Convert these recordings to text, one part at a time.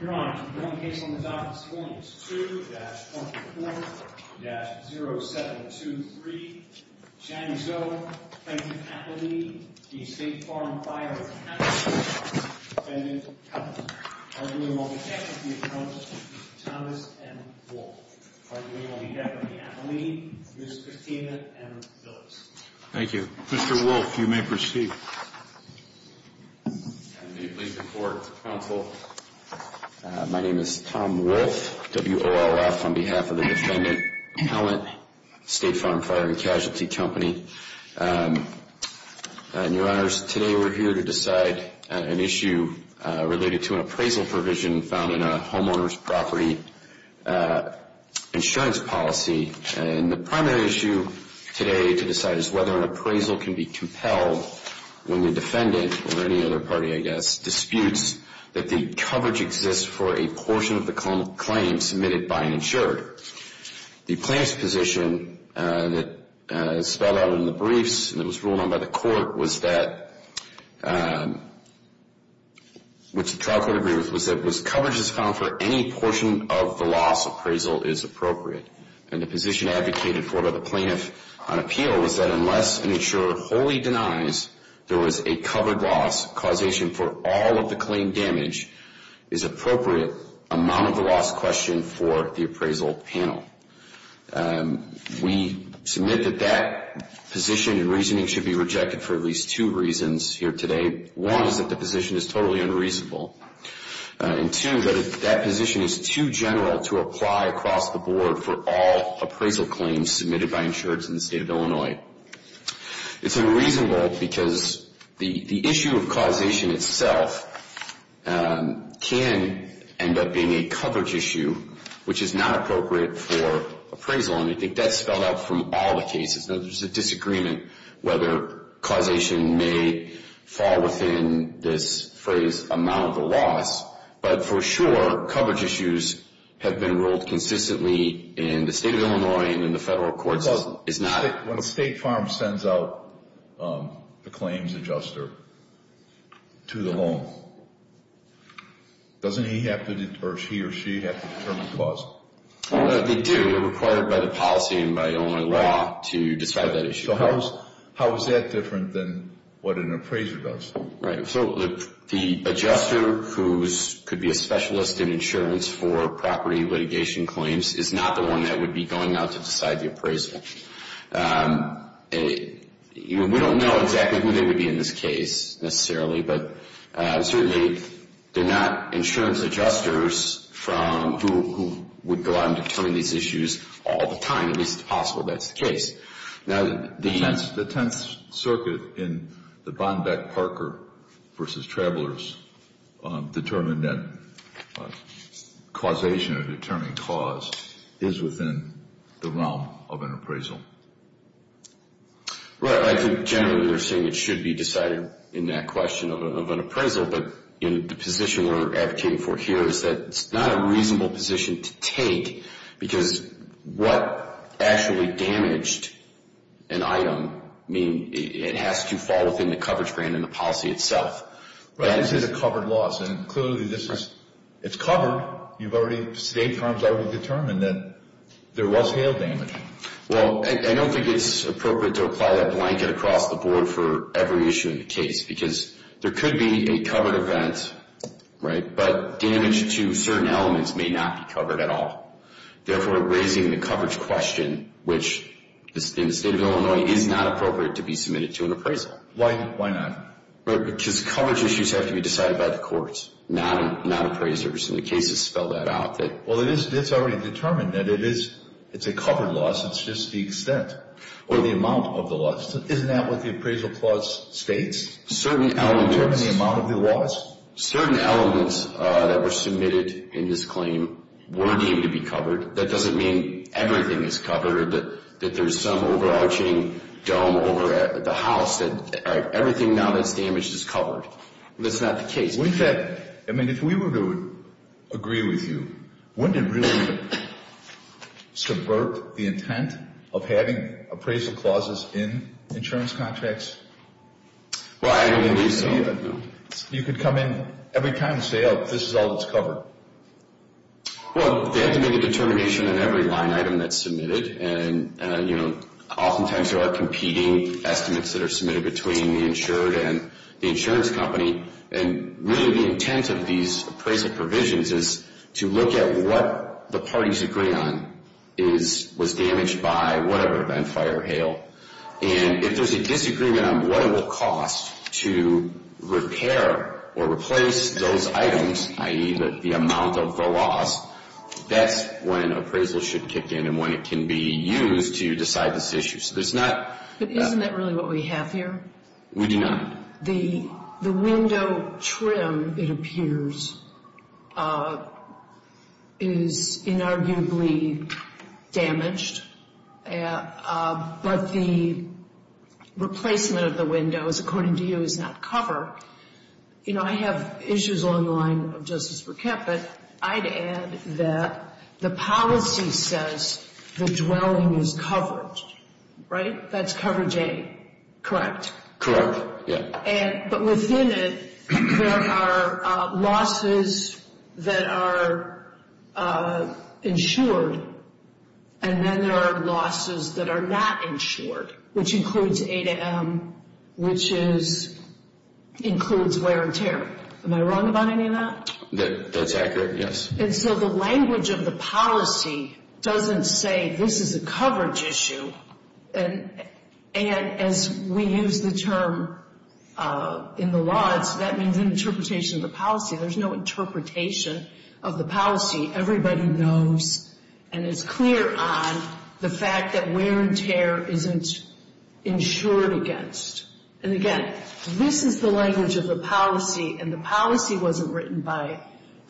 Your Honor, the current case on this office is Williams 2-24-0723. Shani Zohr, plaintiff's athlete, the State Farm Fire & Casualty Co. defendant's couple. Arguing on behalf of the appellant, Mr. Thomas M. Wolfe. Arguing on behalf of the athlete, Ms. Katina M. Phillips. Thank you. Mr. Wolfe, you may proceed. I'm the plaintiff's court counsel. My name is Tom Wolfe, W.O.L.F. on behalf of the defendant, appellant, State Farm Fire & Casualty Co. Your Honors, today we're here to decide an issue related to an appraisal provision found in a homeowner's property insurance policy. And the primary issue today to decide is whether an appraisal can be compelled when the defendant, or any other party I guess, disputes that the coverage exists for a portion of the claim submitted by an insured. The plaintiff's position that is spelled out in the briefs and it was ruled on by the court was that, which the trial court agreed with, was that if coverage is found for any portion of the loss, appraisal is appropriate. And the position advocated for by the plaintiff on appeal was that unless an insurer wholly denies there was a covered loss, causation for all of the claim damage is appropriate, amount of the loss questioned for the appraisal panel. We submit that that position and reasoning should be rejected for at least two reasons here today. One is that the position is totally unreasonable. And two, that position is too general to apply across the board for all appraisal claims submitted by insureds in the state of Illinois. It's unreasonable because the issue of causation itself can end up being a coverage issue, which is not appropriate for appraisal. And I think that's spelled out from all the cases. There's a disagreement whether causation may fall within this phrase, amount of the loss. But for sure, coverage issues have been ruled consistently in the state of Illinois and in the federal courts. It's not- When a state firm sends out the claims adjuster to the loan, doesn't he have to, or she or he, have to determine the cost? They do. They're required by the policy and by Illinois law to decide that issue. So how is that different than what an appraiser does? Right. So the adjuster, who could be a specialist in insurance for property litigation claims, is not the one that would be going out to decide the appraisal. We don't know exactly who they would be in this case, necessarily. But certainly, they're not insurance adjusters who would go out and determine these issues all the time. At least, it's possible that's the case. Now, the- The Tenth Circuit in the Bonbeck-Parker v. Travelers determined that causation or determined cause is within the realm of an appraisal. Right. I think generally, they're saying it should be decided in that question of an appraisal. But the position we're advocating for here is that it's not a reasonable position to take because what actually damaged an item, I mean, it has to fall within the coverage grant and the policy itself. Right. This is a covered loss. And clearly, this is- Right. It's covered. You've already- State firms already determined that there was hail damage. Well, I don't think it's appropriate to apply that blanket across the board for every issue in the case because there could be a covered event, right? But damage to certain elements may not be covered at all. Therefore, raising the coverage question, which in the state of Illinois, is not appropriate to be submitted to an appraisal. Why not? Because coverage issues have to be decided by the courts, not appraisers. And the case has spelled that out. Well, it's already determined that it is a covered loss. It's just the extent or the amount of the loss. Isn't that what the appraisal clause states? Certain elements- Determine the amount of the loss? Certain elements that were submitted in this claim were deemed to be covered. That doesn't mean everything is covered, that there's some overarching dome over the house. Everything now that's damaged is covered. That's not the case. I mean, if we were to agree with you, wouldn't it really subvert the intent of having appraisal clauses in insurance contracts? Well, I don't think so, no. You could come in every time and say, oh, this is all that's covered. Well, they have to make a determination on every line item that's submitted. And, you know, oftentimes there are competing estimates that are submitted between the insured and the insurance company. And really the intent of these appraisal provisions is to look at what the parties agree on was damaged by whatever event, fire or hail. And if there's a disagreement on what it will cost to repair or replace those items, i.e. the amount of the loss, that's when appraisal should kick in and when it can be used to decide this issue. So there's not- But isn't that really what we have here? We do not. The window trim, it appears, is inarguably damaged, but the replacement of the windows, according to you, is not covered. You know, I have issues along the line of Justice Burkett, but I'd add that the policy says the dwelling is covered, right? That's coverage A, correct? Correct, yeah. But within it, there are losses that are insured, and then there are losses that are not insured, which includes A to M, which includes wear and tear. Am I wrong about any of that? That's accurate, yes. And so the language of the policy doesn't say this is a coverage issue. And as we use the term in the law, that means an interpretation of the policy. There's no interpretation of the policy. Everybody knows and is clear on the fact that wear and tear isn't insured against. And again, this is the language of the policy, and the policy wasn't written by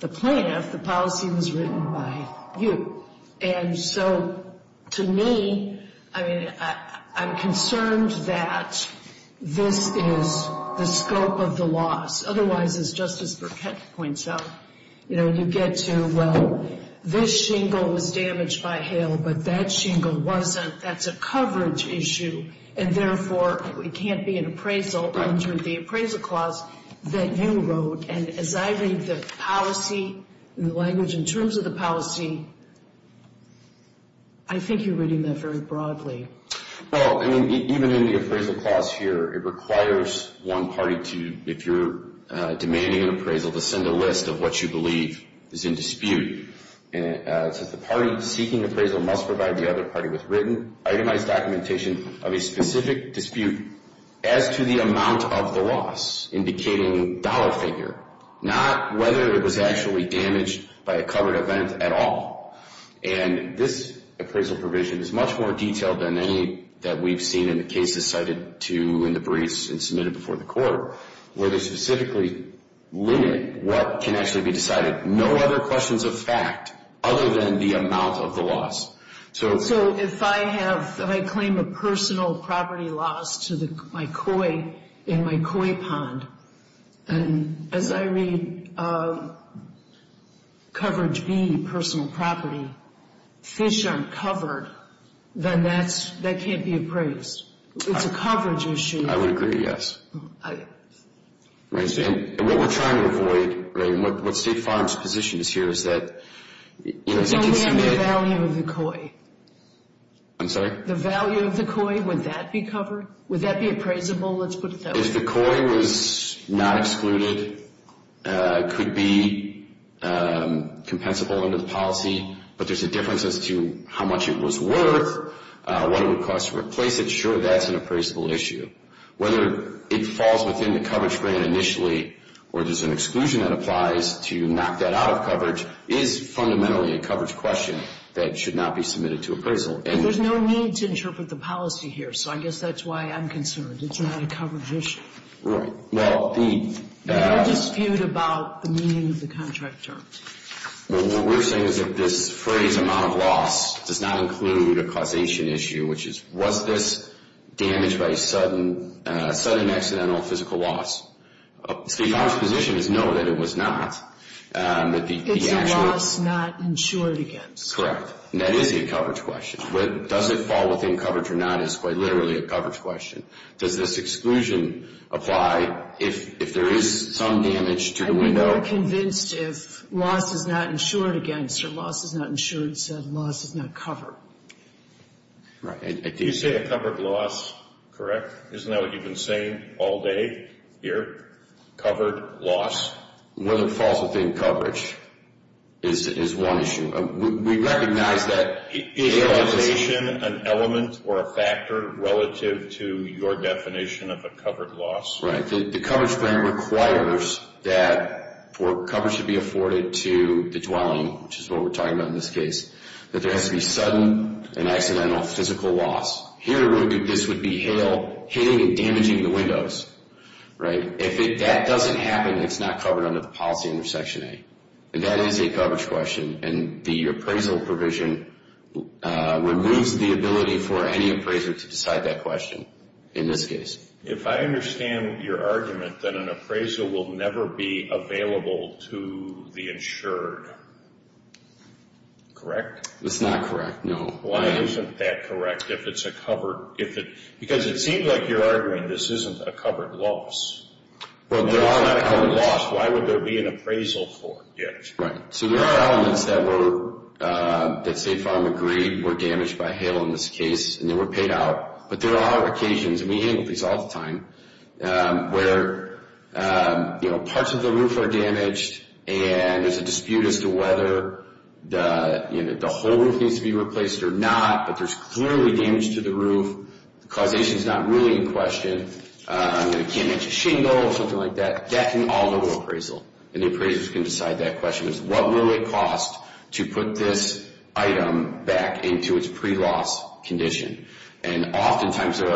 the plaintiff. The policy was written by you. And so to me, I mean, I'm concerned that this is the scope of the loss. Otherwise, as Justice Burkett points out, you know, you get to, well, this shingle was damaged by hail, but that shingle wasn't. That's a coverage issue, and therefore, it can't be an appraisal under the appraisal clause that you wrote. And as I read the policy, the language in terms of the policy, I think you're reading that very broadly. Well, I mean, even in the appraisal clause here, it requires one party to, if you're demanding an appraisal, to send a list of what you believe is in dispute. It says the party seeking appraisal must provide the other party with written, itemized documentation of a specific dispute as to the amount of the loss, indicating dollar figure, not whether it was actually damaged by a covered event at all. And this appraisal provision is much more detailed than any that we've seen in the cases cited to in the briefs and submitted before the court, where they specifically limit what can actually be decided. No other questions of fact other than the amount of the loss. So if I have, if I claim a personal property loss to my koi in my koi pond, and as I read coverage B, personal property, fish aren't covered, then that can't be appraised. It's a coverage issue. I would agree, yes. Right, and what we're trying to avoid, right, and what State Farm's position is here is that, you know, they can submit... It's only on the value of the koi. I'm sorry? The value of the koi, would that be covered? Would that be appraisable? Let's put it that way. If the koi was not excluded, could be compensable under the policy, but there's a difference as to how much it was worth, what it would cost to replace it, sure, that's an appraisable issue. Whether it falls within the coverage grant initially, or there's an exclusion that applies to knock that out of coverage, is fundamentally a coverage question that should not be submitted to appraisal. There's no need to interpret the policy here, so I guess that's why I'm concerned. It's not a coverage issue. Right. Well, the... There's no dispute about the meaning of the contract terms. What we're saying is that this phrase, amount of loss, does not include a causation issue, which is, was this damaged by a sudden accidental physical loss? Our position is no, that it was not. It's a loss not insured against. Correct. That is a coverage question. Does it fall within coverage or not is quite literally a coverage question. Does this exclusion apply if there is some damage to the window? I'd be more convinced if loss is not insured against, or loss is not insured said, loss is not covered. Right. You say a covered loss, correct? Isn't that what you've been saying all day here, covered loss? Whether it falls within coverage is one issue. We recognize that... Is causation an element or a factor relative to your definition of a covered loss? Right. The coverage grant requires that for coverage to be afforded to the dwelling, which is what we're talking about in this case, that there has to be sudden and accidental physical loss. Here, this would be hailing and damaging the windows. Right. If that doesn't happen, it's not covered under the policy under Section A. And that is a coverage question. And the appraisal provision removes the ability for any appraiser to decide that question in this case. If I understand your argument that an appraisal will never be available to the insured, correct? That's not correct, no. Why isn't that correct if it's a covered... Because it seems like you're arguing this isn't a covered loss. Well, there are... If it's not a covered loss, why would there be an appraisal for it yet? Right. So there are elements that were, that State Farm agreed were damaged by hail in this case, and they were paid out. But there are occasions, and we handle these all the time, where parts of the roof are damaged, and there's a dispute as to whether the whole roof needs to be replaced or not, but there's clearly damage to the roof. The causation's not really in question. I can't mention shingle or something like that. That can all go to appraisal. And the appraisers can decide that question. What will it cost to put this item back into its pre-loss condition? And oftentimes there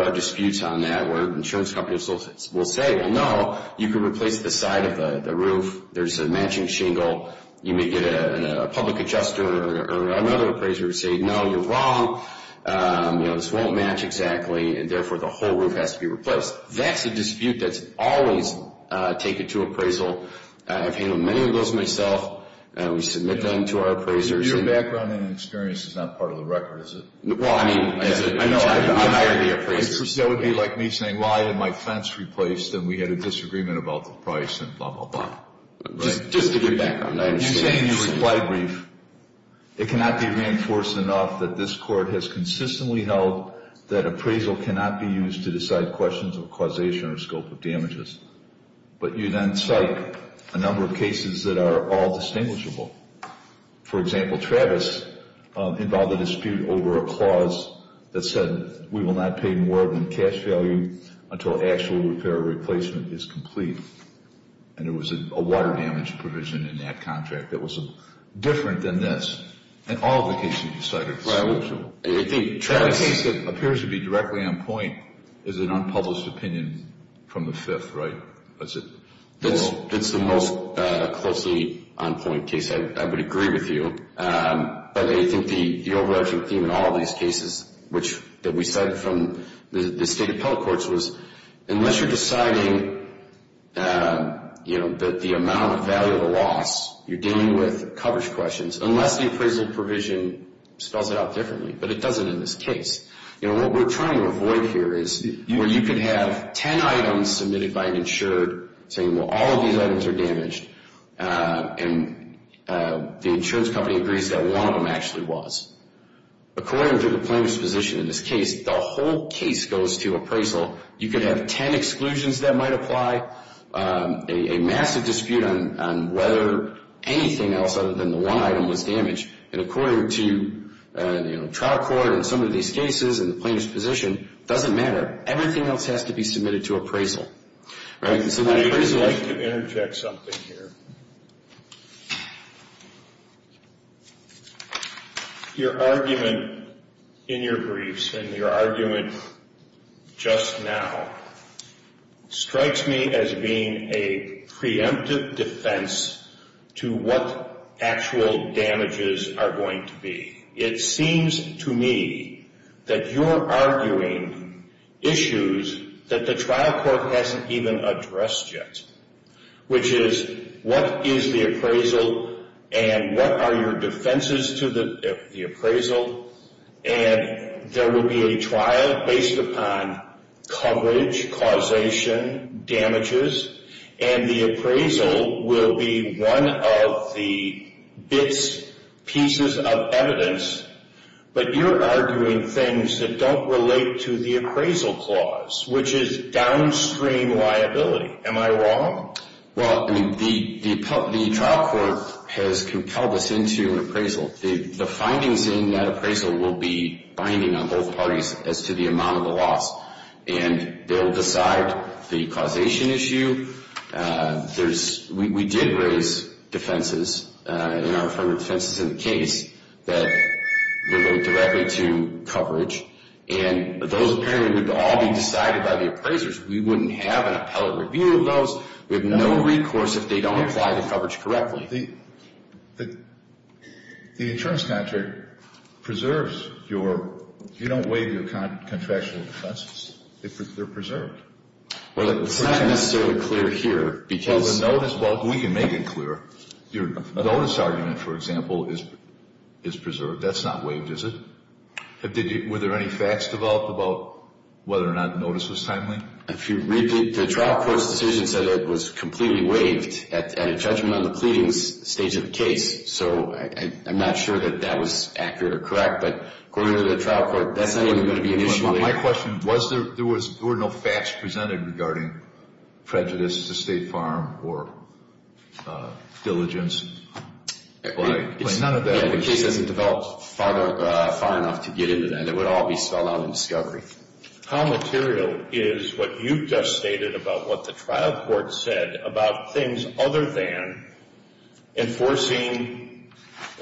are disputes on that, where insurance companies will say, well, no, you can replace the side of the roof. There's a matching shingle. You may get a public adjuster or another appraiser to say, no, you're wrong. This won't match exactly, and therefore the whole roof has to be replaced. That's a dispute that's always taken to appraisal. I've handled many of those myself. We submit them to our appraisers. Your background and experience is not part of the record, is it? Well, I mean, as an attorney, I've hired the appraiser. That would be like me saying, well, I had my fence replaced and we had a disagreement about the price and blah, blah, blah. Right. Just to get background. I understand. You say in your reply brief, it cannot be reinforced enough that this court has consistently held that appraisal cannot be used to decide questions of causation or scope of damages. But you then cite a number of cases that are all distinguishable. For example, Travis involved a dispute over a clause that said we will not pay more than cash value until actual repair or replacement is complete. And there was a water damage provision in that contract that was different than this. And all of the cases you cited are distinguishable. The case that appears to be directly on point is an unpublished opinion from the Fifth, right? That's the most closely on point case. I would agree with you. But I think the overarching theme in all of these cases that we cited from the State Appellate Courts was unless you're deciding that the amount of value of a loss, you're dealing with coverage questions, unless the appraisal provision spells it out differently, but it doesn't in this case. What we're trying to avoid here is where you could have 10 items submitted by an insured saying, well, all of these items are damaged and the insurance company agrees that one of them actually was. According to the plaintiff's position in this case, the whole case goes to appraisal. You could have 10 exclusions that might apply, a massive dispute on whether anything else other than the one item was damaged. And according to trial court in some of these cases and the plaintiff's position, it doesn't matter. Everything else has to be submitted to appraisal. I'd like to interject something here. Your argument in your briefs and your argument just now strikes me as being a preemptive defense to what actual damages are going to be. It seems to me that you're arguing issues that the trial court hasn't even addressed yet, which is what is the appraisal and what are your defenses to the appraisal? And there will be a trial based upon coverage, causation, damages, and the appraisal will be one of the bits, pieces of evidence. But you're arguing things that don't relate to the appraisal clause, which is downstream liability. Am I wrong? Well, the trial court has compelled us into appraisal. The findings in that appraisal will be binding on both parties as to the amount of the loss. And they'll decide the causation issue. We did raise defenses in our affirmative defenses in the case that relate directly to coverage. And those, apparently, would all be decided by the appraisers. We wouldn't have an appellate review of those. We have no recourse if they don't apply the coverage correctly. The insurance contract preserves your... You don't waive your contractual defenses. They're preserved. Well, it's not necessarily clear here because... Well, we can make it clear. Your notice argument, for example, is preserved. That's not waived, is it? Were there any facts developed about whether or not notice was timely? The trial court's decision said it was completely waived at a judgment on the pleadings stage of the case. So I'm not sure that that was accurate or correct. But according to the trial court, that's not even going to be an issue. My question was, there were no facts presented regarding prejudice to State Farm or diligence? None of that. Yeah, the case hasn't developed far enough to get into that. It would all be spelled out in discovery. How material is what you just stated about what the trial court said about things other than enforcing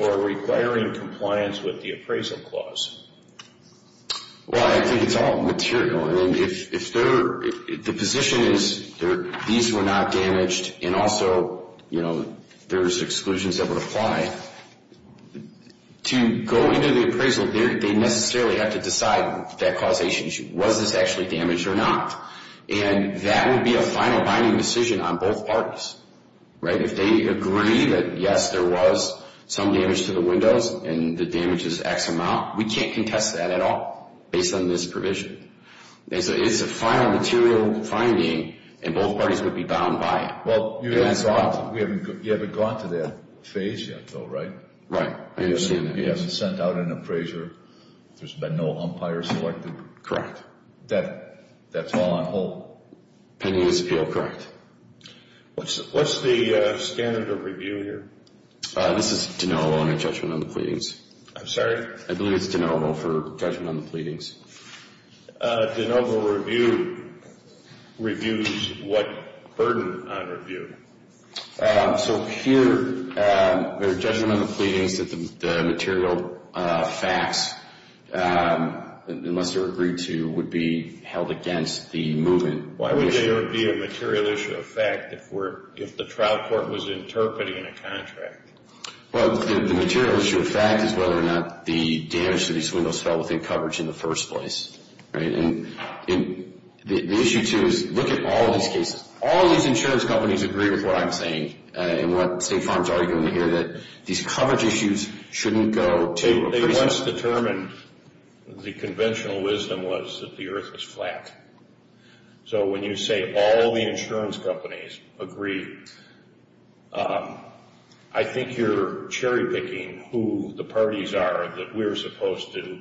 or requiring compliance with the appraisal clause? Well, I think it's all material. The position is these were not damaged and also there's exclusions that would apply. To go into the appraisal, they necessarily have to decide that causation issue. Was this actually damaged or not? And that would be a final binding decision on both parties. If they agree that, yes, there was some damage to the windows and the damage is X amount, we can't contest that at all based on this provision. It's a final material finding and both parties would be bound by it. Well, you haven't gone to that phase yet, though, right? Right. I understand that. You haven't sent out an appraiser. There's been no umpire selected. Correct. That's all on hold? Pending his appeal, correct. What's the standard of review here? This is de novo on a judgment on the pleadings. I'm sorry? I believe it's de novo for judgment on the pleadings. De novo review reviews what burden on review? So here, their judgment on the pleadings that the material facts must have agreed to would be held against the movement. Why would there be a material issue of fact if the trial court was interpreting a contract? Well, the material issue of fact is whether or not the damage to these windows fell within coverage in the first place. Right? And the issue, too, is look at all these cases. All these insurance companies agree with what I'm saying and what State Farm's arguing here that these coverage issues shouldn't go to appraisers. Once determined, the conventional wisdom was that the earth is flat. So when you say all the insurance companies agree, I think you're cherry-picking who the parties are that we're supposed to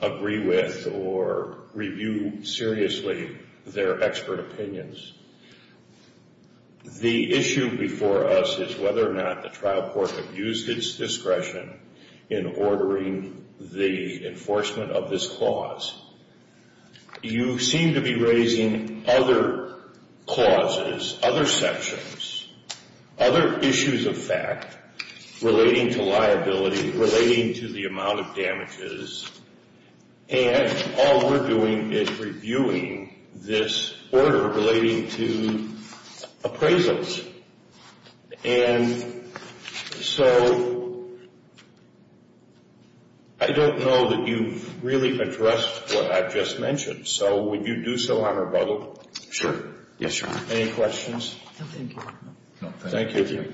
agree with or review seriously their expert opinions. The issue before us is whether or not the trial court used its discretion in ordering the enforcement of this clause. You seem to be raising other clauses, other sections, other issues of fact relating to liability, relating to the amount of damages, and all we're doing is reviewing this order relating to appraisals. And so... I don't know that you've really addressed what I've just mentioned, so would you do so on rebuttal? Sure. Yes, Your Honor. Any questions? No, thank you. Thank you.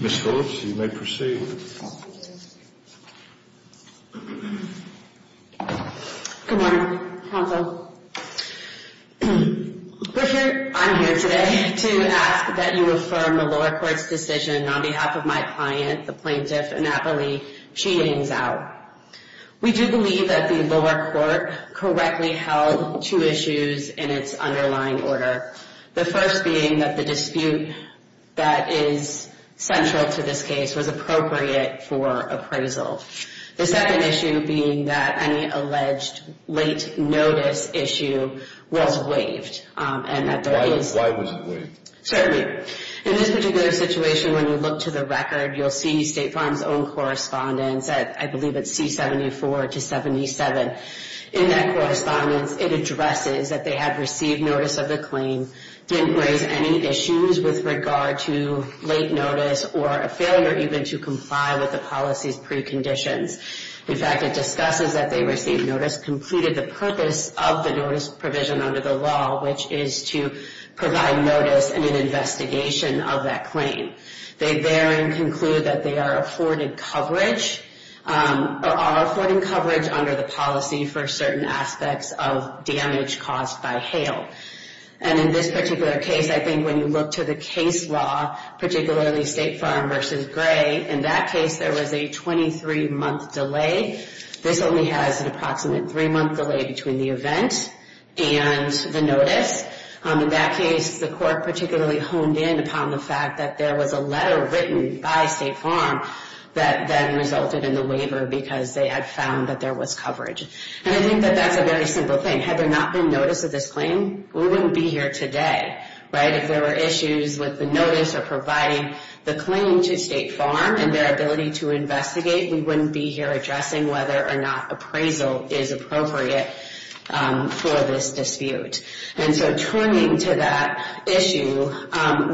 Ms. Phillips, you may proceed. Good morning, counsel. I'm here today to ask that you affirm the lower court's decision on behalf of my client, the plaintiff, Annapoli. She hangs out. We do believe that the lower court correctly held two issues in its underlying order. The first being that the dispute that is central to this case was appropriate for appraisal. The second issue being that any alleged late notice issue was waived. Why was it waived? Certainly. In this particular situation, when you look to the record, you'll see State Farm's own correspondence at, I believe it's C-74 to 77. In that correspondence, it addresses that they had received notice of the claim, didn't raise any issues with regard to late notice or a failure even to comply with the policy's preconditions. In fact, it discusses that they received notice, concluded the purpose of the notice provision under the law, which is to provide notice in an investigation of that claim. They therein conclude that they are affording coverage or are affording coverage under the policy for certain aspects of damage caused by hail. And in this particular case, I think when you look to the case law, particularly State Farm versus Gray, in that case, there was a 23-month delay. This only has an approximate three-month delay between the event and the notice. In that case, the court particularly honed in upon the fact that there was a letter written by State Farm that then resulted in the waiver because they had found that there was coverage. And I think that that's a very simple thing. Had there not been notice of this claim, we wouldn't be here today, right? If there were issues with the notice or providing the claim to State Farm and their ability to investigate, we wouldn't be here addressing whether or not appraisal is appropriate for this dispute. And so, turning to that issue,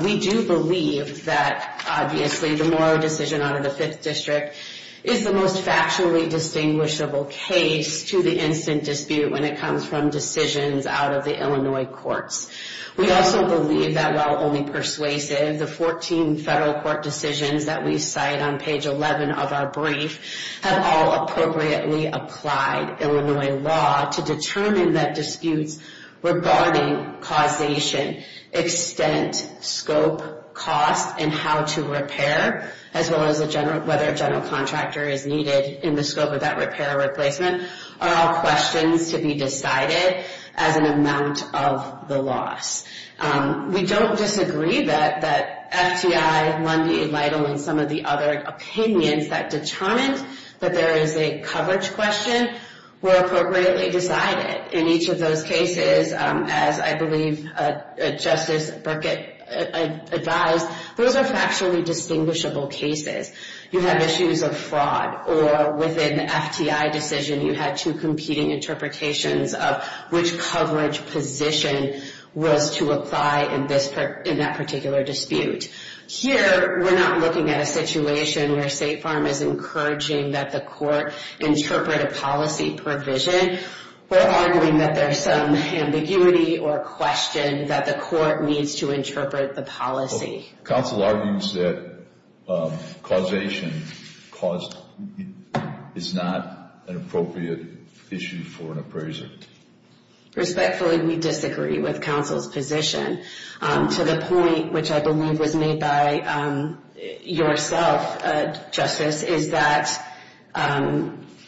we do believe that, obviously, the Morrow decision out of the Fifth District is the most factually distinguishable case to the instant dispute when it comes from decisions out of the Illinois courts. We also believe that while only persuasive, the 14 federal court decisions that we cite on page 11 of our brief have all appropriately applied Illinois law to determine that disputes regarding causation, extent, scope, cost, and how to repair, as well as whether a general contractor is needed in the scope of that repair or replacement are all questions to be decided as an amount of the loss. We don't disagree that FTI, and some of the other opinions that determined that there is a coverage question were appropriately decided. In each of those cases, as I believe Justice Burkett advised, those are factually distinguishable cases. You have issues of fraud or within FTI decision you had two competing interpretations of which coverage position was to apply in that particular dispute. Here, we're not looking at a situation where State Farm is encouraging that the court interpret a policy provision. We're arguing that there's some ambiguity or question that the court needs to interpret the policy. Counsel argues that causation is not an appropriate issue for an appraiser. Respectfully, we disagree with counsel's to the point which I believe was made by yourself, is that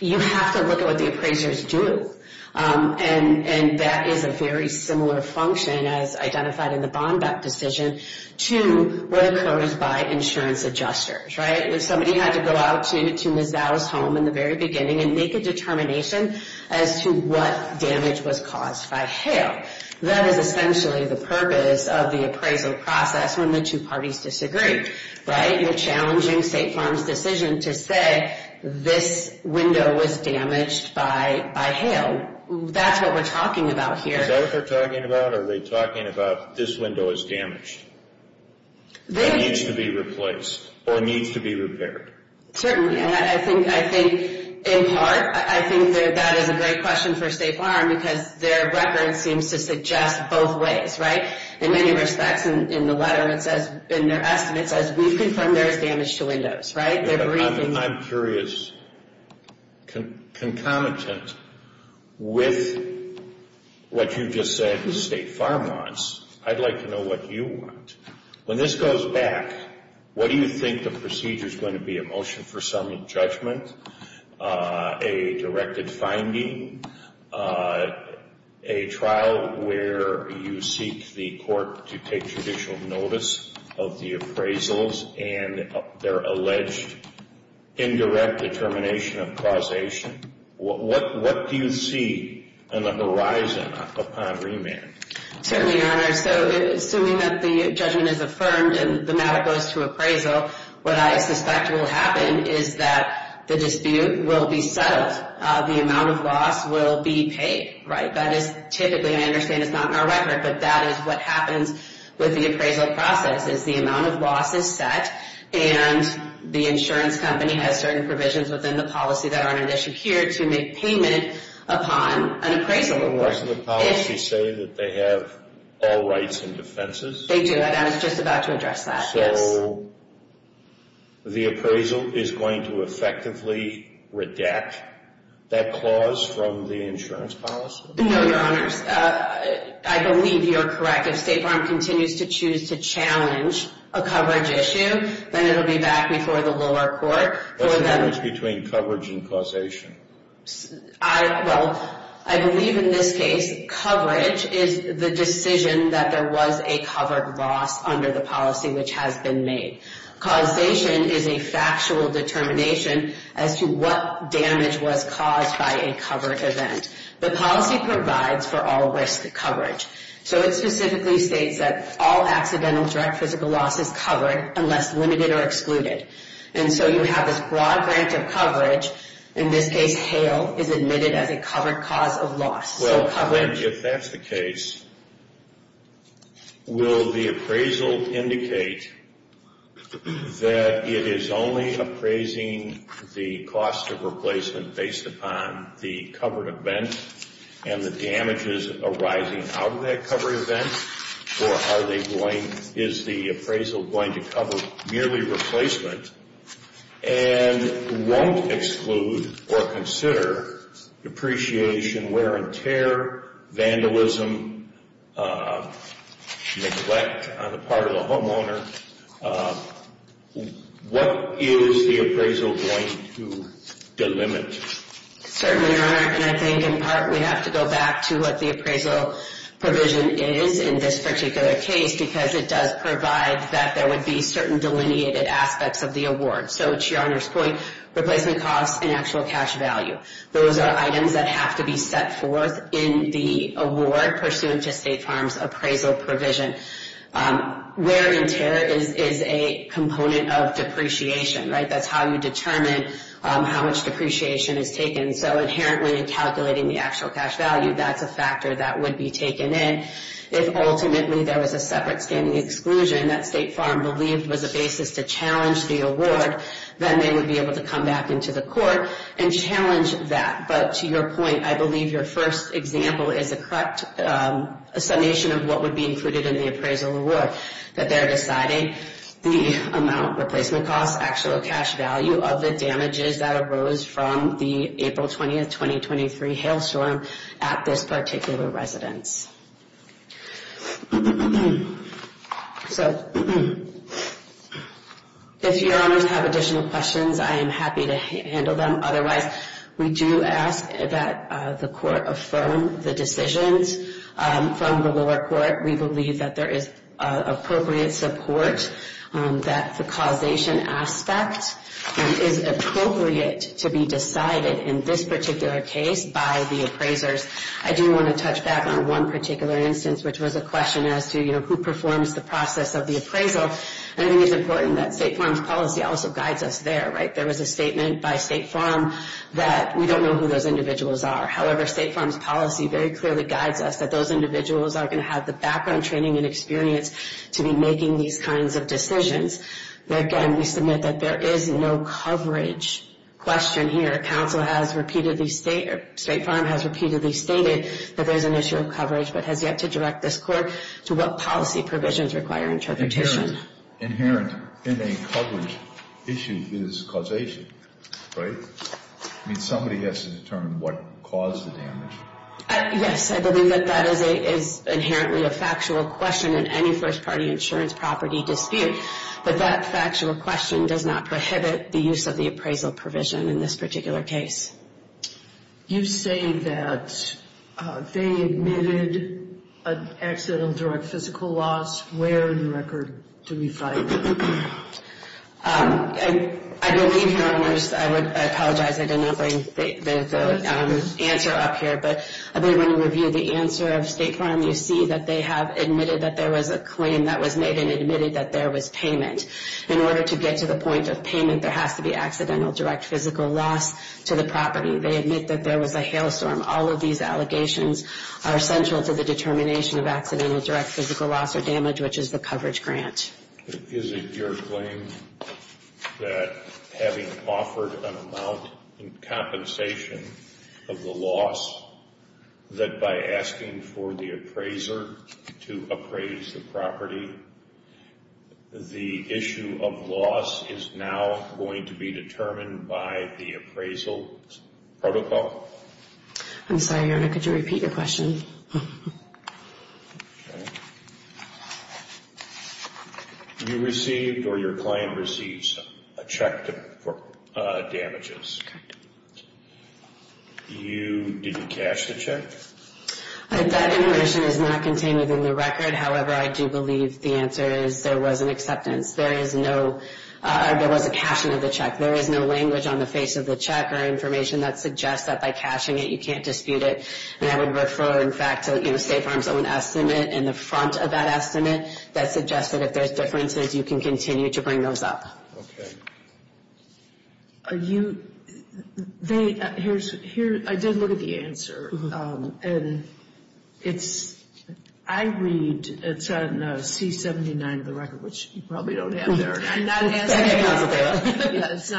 you have to look at what the appraisers do. That is a very similar function as identified in the bond decision to what occurs by insurance adjusters. If somebody had to go out to Ms. Dow's home in the very beginning and make a determination as to what damage was caused by That is essentially the purpose of the appraisal process when the two parties disagree. You're challenging State Farm's decision to say this window was damaged by hail. That's what we're talking about here. Is that what they're talking about? Are they talking about this window is damaged that needs to be replaced or needs to be repaired? Certainly. I think in part I think that is a great question for State Farm because their record seems to suggest both ways. In many respects in the letter it says we've confirmed there is damage to I'm curious concomitant with what you just said State Farm wants. I'd like to know what you want. When this goes back what do you think the procedure is going to be? A motion for some judgment? A directed finding? A trial where you seek the court to take judicial notice of the appraisals and their alleged indirect determination of causation? What do you see on the horizon upon remand? Assuming the judgment is affirmed and the matter goes to appraisal what I suspect will happen is that the dispute will be settled. The amount of loss will be paid. That is what happens with the appraisal process. The amount of loss is set and the insurance company has certain provisions within the policy to make payment upon an appraisal. Do the policies say they have all rights and They do. I was just about to address that. So the appraisal is going to effectively redact that clause from the insurance policy? No, Your I believe you are correct. If State Farm continues to challenge a coverage issue, then it will be back before the lower court. What is the difference between coverage and causation? I believe in this case, is the decision that there was a covered loss under the policy which has been made. Causation is a factual determination as to what damage was caused by a event. The policy provides for all risk coverage. So it specifically states that all accidental direct physical loss is covered unless limited or not. that it is only appraising the cost of replacement based upon the covered event and the arising out of that covered event or is the appraisal going to cover merely replacement and that won't exclude or consider depreciation, wear and tear, vandalism, on the part of the homeowner, what is the appraisal going to delimit? Certainly, and I think in part we have to go back to what the appraisal provision is in this particular case because it does provide that there would be certain delineated aspects of the award. to your Honor's point, replacement costs and actual cash value. Those are items that have to be set forth in the award pursuant to State Farm's appraisal provision. Wear and tear is a component of depreciation, right? That's how you determine how much depreciation is taken. So, inherently in calculating the actual cash value, that's a factor that would be taken in. If, ultimately, there was a separate standing exclusion that State Farm believed was a basis to challenge the award, then they would be able to come back into the court and challenge that. But, to your point, I believe your first example is a correct summation of what would be included in the appraisal award. That they are deciding the amount replacement costs, actual cash value, of the damages that arose from the April 20, 2023 hail storm at this particular residence. So, if your honors have additional questions, I am happy to handle them. Otherwise, we do ask that the court affirm the decisions from the lower court. We believe that there is appropriate support that the causation aspect is appropriate to be decided in this particular case by the appraisers. I do want to touch back on one particular instance which was a question as to who performs the process of the damage. individuals are going to have the background training and experience to be these kinds of Again, we submit that there is no coverage question here. Council has repeatedly stated that there is inherently a factual question in any first-party insurance property dispute but that factual question does not prohibit the use of the appraisal provision in this particular case. You say that they admitted an accident and drug physical loss. Where in the do we find it? I believe I apologize I did not bring the answer up here but I do want to review the answer of State Farm. You see that they have admitted that there was a claim that was made and admitted that there was payment. In order to get to the point of payment there has to be direct physical loss to the property. They admit that there was a hailstorm. All of these allegations are central to the determination of accidental direct physical loss or damage which is the coverage grant. Is it your claim that having offered an amount in of the loss that by asking for the appraiser to appraise the property the issue of loss is now going to be determined by the appraisal protocol? I'm sorry could you repeat your question? received or your claim receives a check for damages. Did you the check? That information is not contained in the record however I do believe the answer is there was an acceptance. There is no language on the face of the check that suggests you can't dispute it. I would refer to the estimate that suggests you can continue to bring those up. I did look at the answer and I read it's not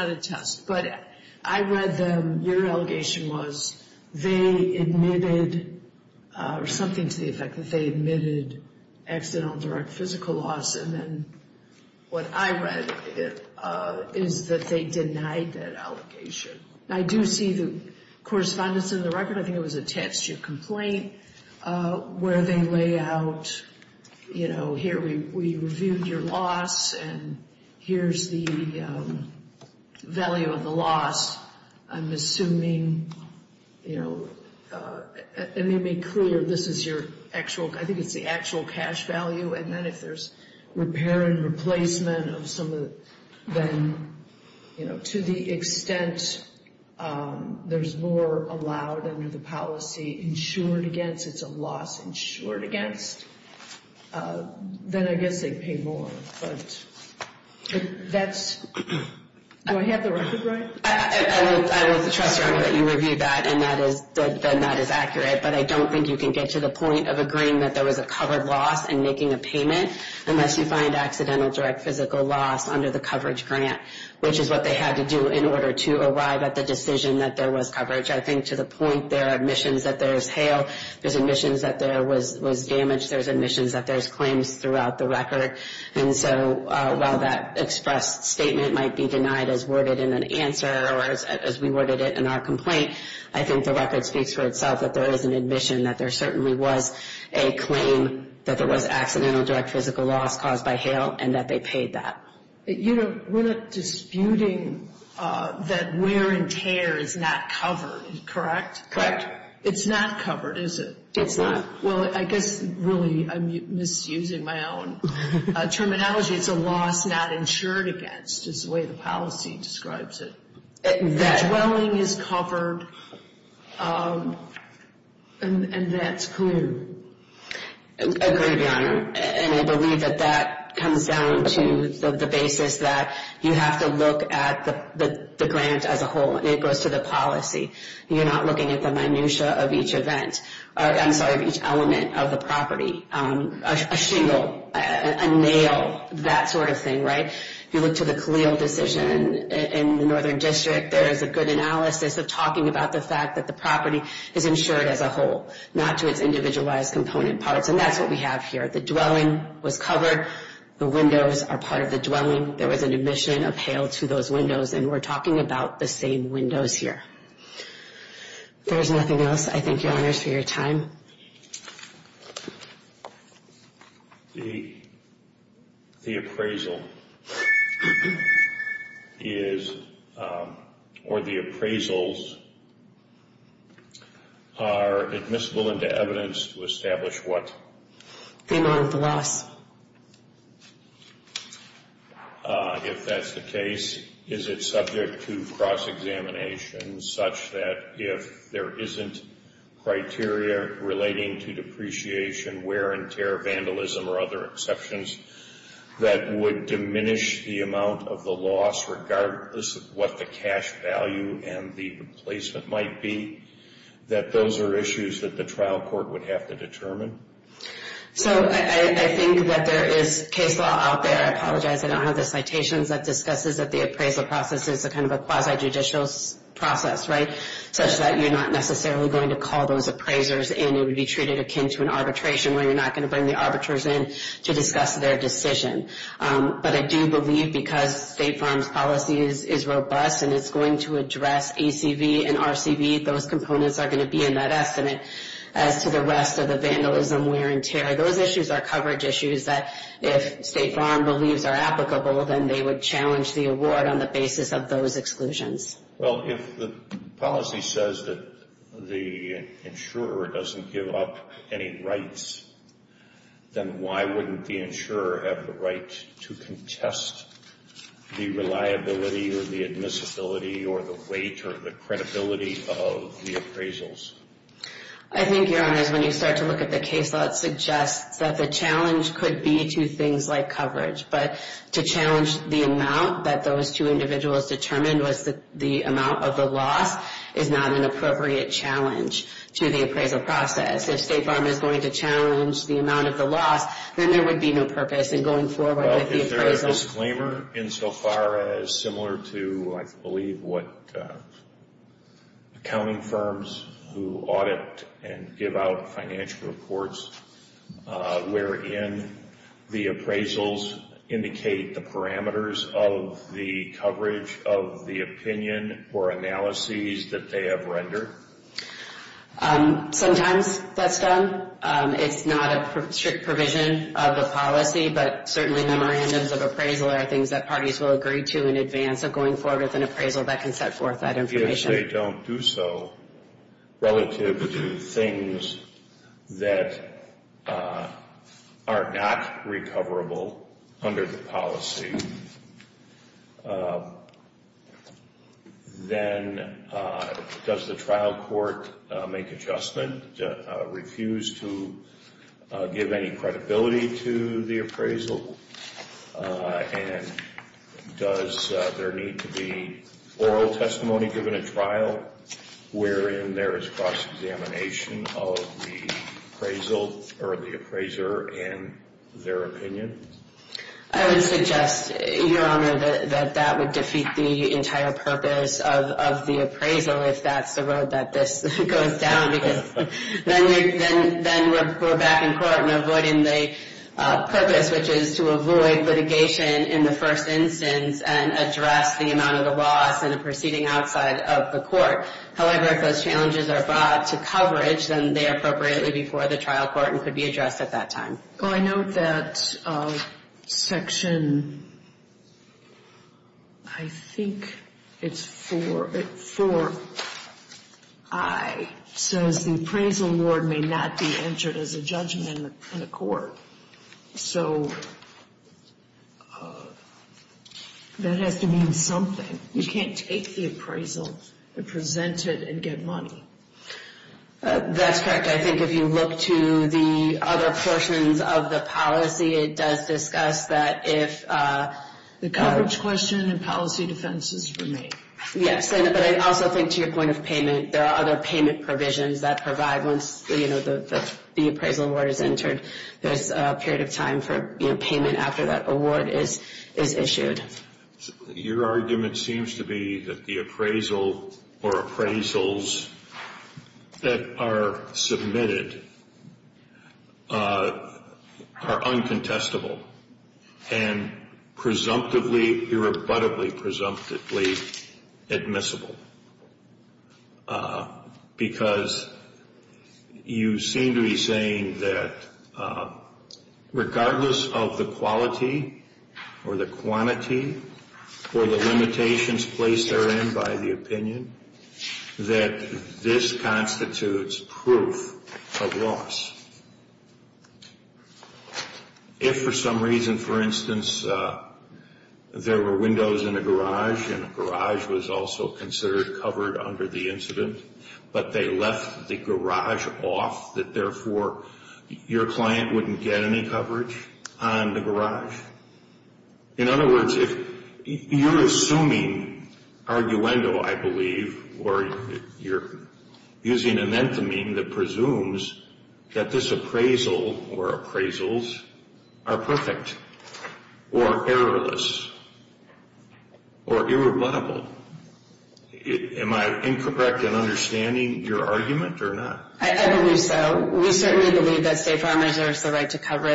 a test but I read them your allegation was they admitted accidental direct physical loss and then what I read is that they denied that allegation. I do see the correspondence in the record I think it was a text complaint where they lay out here we reviewed your loss and here's the value of the loss I'm assuming it made me clear this is your actual cash value and if there's repair and of some of them to the extent there's more allowed under the policy insured against it's a loss insured against then I guess they pay more but that's do I have the record right? I will trust you that you reviewed that and that is accurate but I don't think you can get to the point of agreeing that there was a covered loss and making a which is what they had to do and I think the record speaks for itself that there is an admission that there certainly was a claim that there was accidental direct physical loss caused by and that they paid that. We're not the dwelling is covered and that's clear. I agree your and I believe that comes down to the basis that you have to at the grant as a whole and it goes to the policy and you're not looking at the minutia of each event I'm sorry of each element of the a shingle a nail that sort of thing right you look to the decision in the northern district there's a good analysis of talking about the fact that the property is insured as a whole not to its individualized component parts and that's what we have here. The was covered the windows are part of those windows and we're about the same windows here. There's nothing else I thank you for your time. The appraisal is or the appraisals are admissible into evidence to what? Is it subject to cross examination such that if there isn't criteria relating to depreciation wear and vandalism or other exceptions that would diminish the amount of the loss regardless of what the cash value and the replacement might be that those are issues that the trial court would have to determine? So I think that there is case law out there I apologize I don't have the citations that discuss the appraisal process as a quasi judicial process such that you're not necessarily going to call those appraisers in it would be treated akin to an arbitration where you're not going to bring the arbiters in to discuss their decision but I do not insurer doesn't give up any rights then why wouldn't the have the to contest the reliability or the admissibility or the weight or the credibility of the appraisals I think your honor when you start to look at the case law it that the challenge could be to things like coverage but to challenge the amount that those could be no purpose in going forward with the in so far as to I believe what accounting firms who audit and give out financial reports where in the appraisals indicate the parameters of the coverage of the opinion or analyses that they have rendered sometimes that's done it's not a strict provision of the policy but certainly memorandums of appraisal are things that parties will agree to in advance of going forward with an appraisal that can set forth that then does the trial court make adjustment to refuse to give any credibility to the appraisal and does there need to be oral testimony given a wherein there is cross-examination of the appraisal or the appraiser and their testimony that that would defeat the entire purpose of the appraisal if that's the road that this goes down because then we're back in court and avoiding the purpose which is to avoid litigation in the first instance and address the amount of the loss in the proceeding outside of the however if those challenges are brought to coverage then they are appropriately before the trial court and could be addressed at that time. I note that section I think it's 4 4 I says the appraisal award may not be entered as a judgment in the court so that has to mean something you can't take the appraisal and present it and get money that's correct I think if you look to the other portions of the policy it does discuss that if the appraisal award is entered there is a period of time for payment after that award is issued. Your argument seems to be that appraisal or appraisals that are submitted are uncontestable and presumptively irrebuttably presumptively admissible because you seem to be that regardless of the quality or the quantity or the limitations placed therein by the opinion that this constitutes proof of loss if for some reason for instance there were windows in a garage and a garage was also considered covered under the incident but they left the off that therefore your client wouldn't get any on the In other if you're assuming arguendo I believe or you're using an enthemy that presumes that this appraisal or appraisals are perfect or errorless or irrebuttable am I incorrect in your argument or not? I believe so. We certainly believe that State Farm reserves the right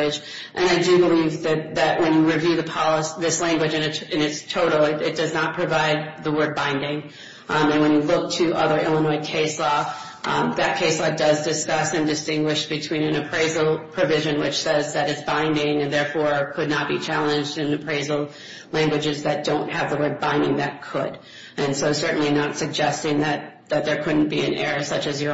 to issue appraisal provision which says that binding and therefore could not be challenged in appraisal languages that don't have the word that could and so certainly not the right issue appraisal provision says that binding and therefore could not be challenged in appraisal languages that don't have an appraisal provision and therefore could not appraisal languages that don't appraisal in appraisal languages that don't have an appraisal provision and therefore could not challenged in appraisal languages that don't have appraisal provision and appraisal languages that don't have an appraisal provision could not challenged in appraisal languages that an appraisal provision could not be appraisal languages that don't have an appraisal provision and therefore could not be challenged in appraisal languages appraisal languages that appraisal provision and therefore challenged in appraisal don't therefore could not be challenged in appraisal languages that challenged appraisal languages that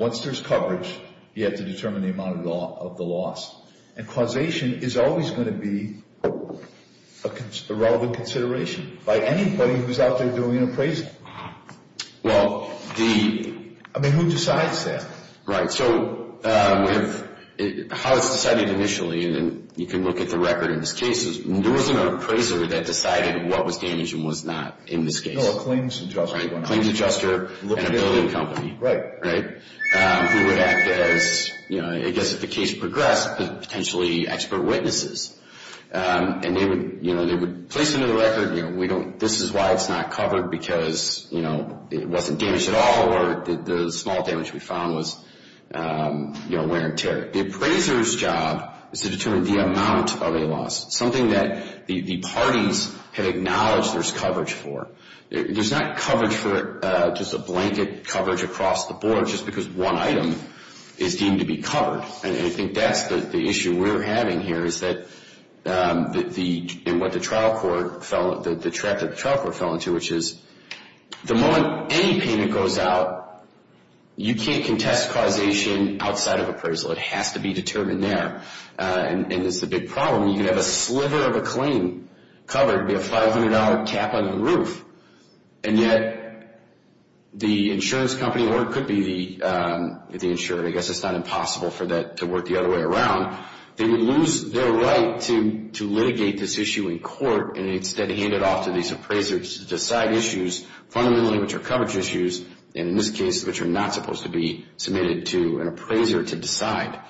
in appraisal languages don't therefore could not be challenged in appraisal languages that don't have an appraisal provision and therefore could not be challenged in appraisal doesn't have an appraisal provision that can not be challenged in appraisal languages that are definitely not going to be covered. And I think that's the issue we're having here is that the, in what the trial court fell, the trap that the trial court fell into, which is the moment any payment goes out, you can't contest causation outside of appraisal. It has to be determined there. And, and that's the big problem. You can have a sliver of a claim covered, be a $500 cap on the roof, and yet the, it's not a good thing. The insurance company, or it could be the, the insurer, I guess it's not impossible for that to work the other way around. They would lose their right to, to litigate this issue in court and instead hand it off to these appraisers to decide issues, fundamentally which are coverage issues, and in this case, which are not supposed to be submitted to an appraiser to decide.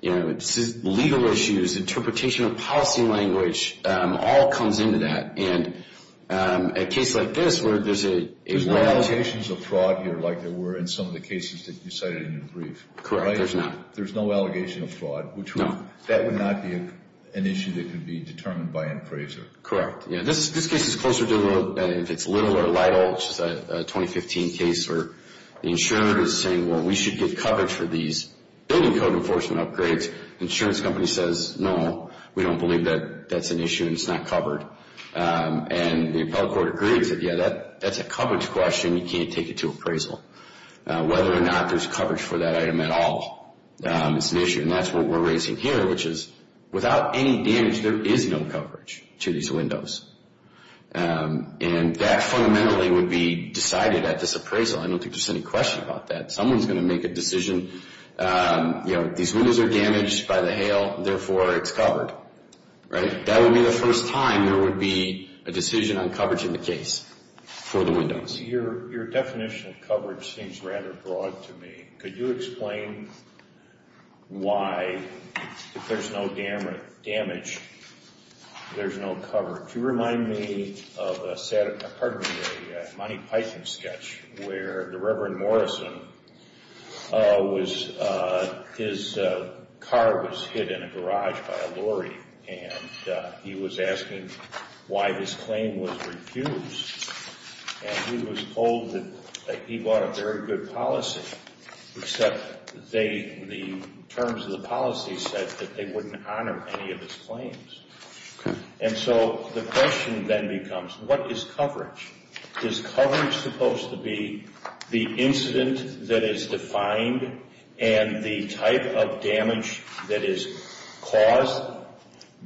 You know, legal issues, interpretation of policy language, all comes into that. And a case like this where there's a, a... There's no allegations of fraud here like there were in some of the cases that you cited in your brief. Correct, there's not. There's no allegation of fraud, which would... That would not be an issue that could be determined by an appraiser. Correct. Yeah, this, this case is closer to the, if it's Little or Lytle, which is a 2015 case where the insurer is saying, well, we should get coverage for these building code enforcement upgrades. The insurance company says, no, we don't believe that that's an issue and it's not covered. And the appellate court agreed and said, yeah, that's a coverage question. You can't take it to appraisal. Whether or not there's coverage for that item at all is an issue. And that's what we're raising here, which is, without any damage, there is no coverage to these windows. And that fundamentally would be decided at this appraisal. I don't think there's any question about that. Someone's going to make a decision, you know, these windows are damaged by the hail, therefore it's covered. Right? That would be the first time there would be a decision on coverage in the case for the windows. Your, your definition of coverage seems rather broad to me. Could you explain why, if there's no damage, there's no coverage? You remind me of a, pardon me, a Monty Python sketch where the Reverend Morrison was, his car was hit in a garage by a lorry. And he was asking why this claim was refused. And he was told that he brought a very good policy, except they, the terms of the policy said that they wouldn't honor any of his claims. And so the question then becomes, what is coverage? Is coverage supposed to be the incident that is defined and the type of damage that is caused?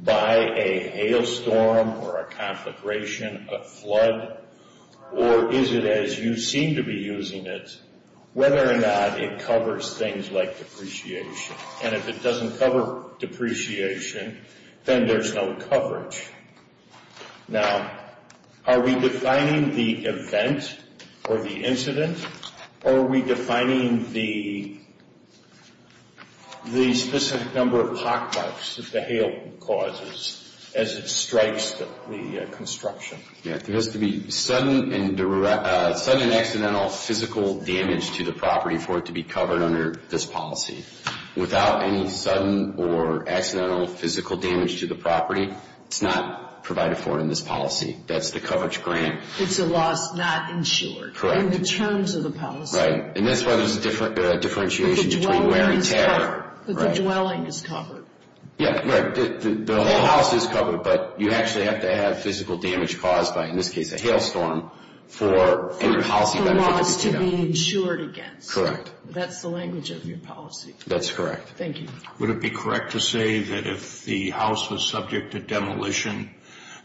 By a hailstorm or a conflagration, a flood? Or is it as you seem to be using it, whether or not it covers things like depreciation? And if it doesn't cover depreciation, then there's no coverage. Now, are we defining the event or the incident, or are we defining the, the specific number of pockmarks that the hail caused? As it strikes the construction. Yeah, there has to be sudden and accidental physical damage to the property for it to be covered under this policy. Without any sudden or accidental physical damage to the property, it's not provided for in this policy. That's the coverage grant. It's a loss not insured. Correct. In the terms of the policy. Right. And that's why there's a differentiation between wear and tear. Because the dwelling is covered. Yeah, right. The whole house is covered, but you actually have to have physical damage caused by, in this case, a hailstorm. For loss to be insured against. Correct. That's the language of your policy. That's correct. Thank you. Would it be correct to say that if the house was subject to demolition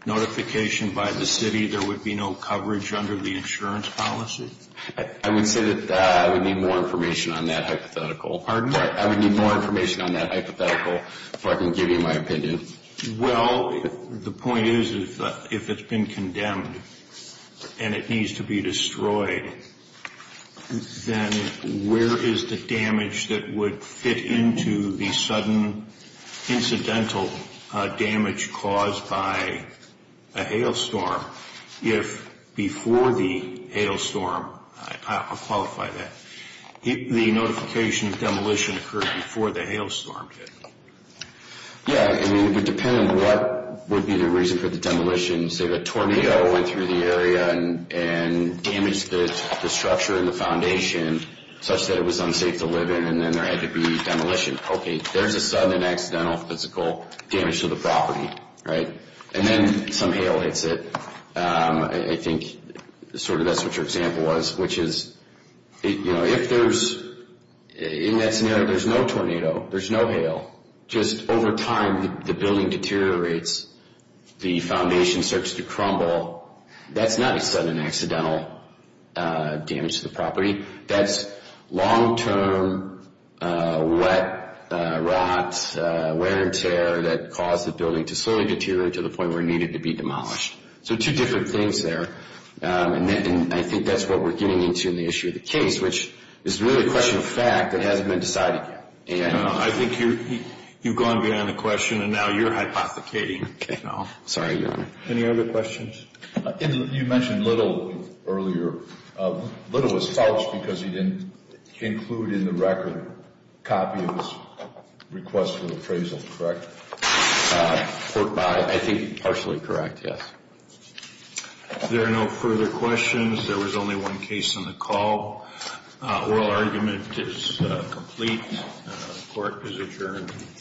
notification by the city, there would be no coverage under the insurance policy? I would say that I would need more information on that hypothetical. Pardon me? I would need more information on that hypothetical, if I can give you my opinion. Well, the point is, if it's been condemned and it needs to be destroyed, then where is the damage that would fit into the sudden incidental damage caused by a hailstorm? If before the hailstorm, I'll qualify that, if the notification of demolition occurred before the hailstorm hit? Yeah, I mean, it would depend on what would be the reason for the demolition. Say the tornado went through the area and damaged the structure and the foundation, such that it was unsafe to live in, and then there had to be demolition. Okay, there's a sudden accidental physical damage to the property, right? And then some hail hits it. I think sort of that's what your example was, which is, you know, if there's, in that scenario, there's no tornado, there's no hail. Just over time, the building deteriorates, the foundation starts to crumble. That's not a sudden accidental damage to the property. That's long-term wet rot, wear and tear that caused the building to slowly deteriorate to the point where it needed to be demolished. So there's some weird things there, and I think that's what we're getting into in the issue of the case, which is really a question of fact that hasn't been decided yet. I think you've gone beyond the question, and now you're hypothecating. Okay, sorry. Any other questions? You mentioned Little earlier. Little was false because he didn't include in the record a copy of his request for the appraisal, correct? I think partially correct, yes. If there are no further questions, there was only one case on the call. Oral argument is complete. Court is adjourned.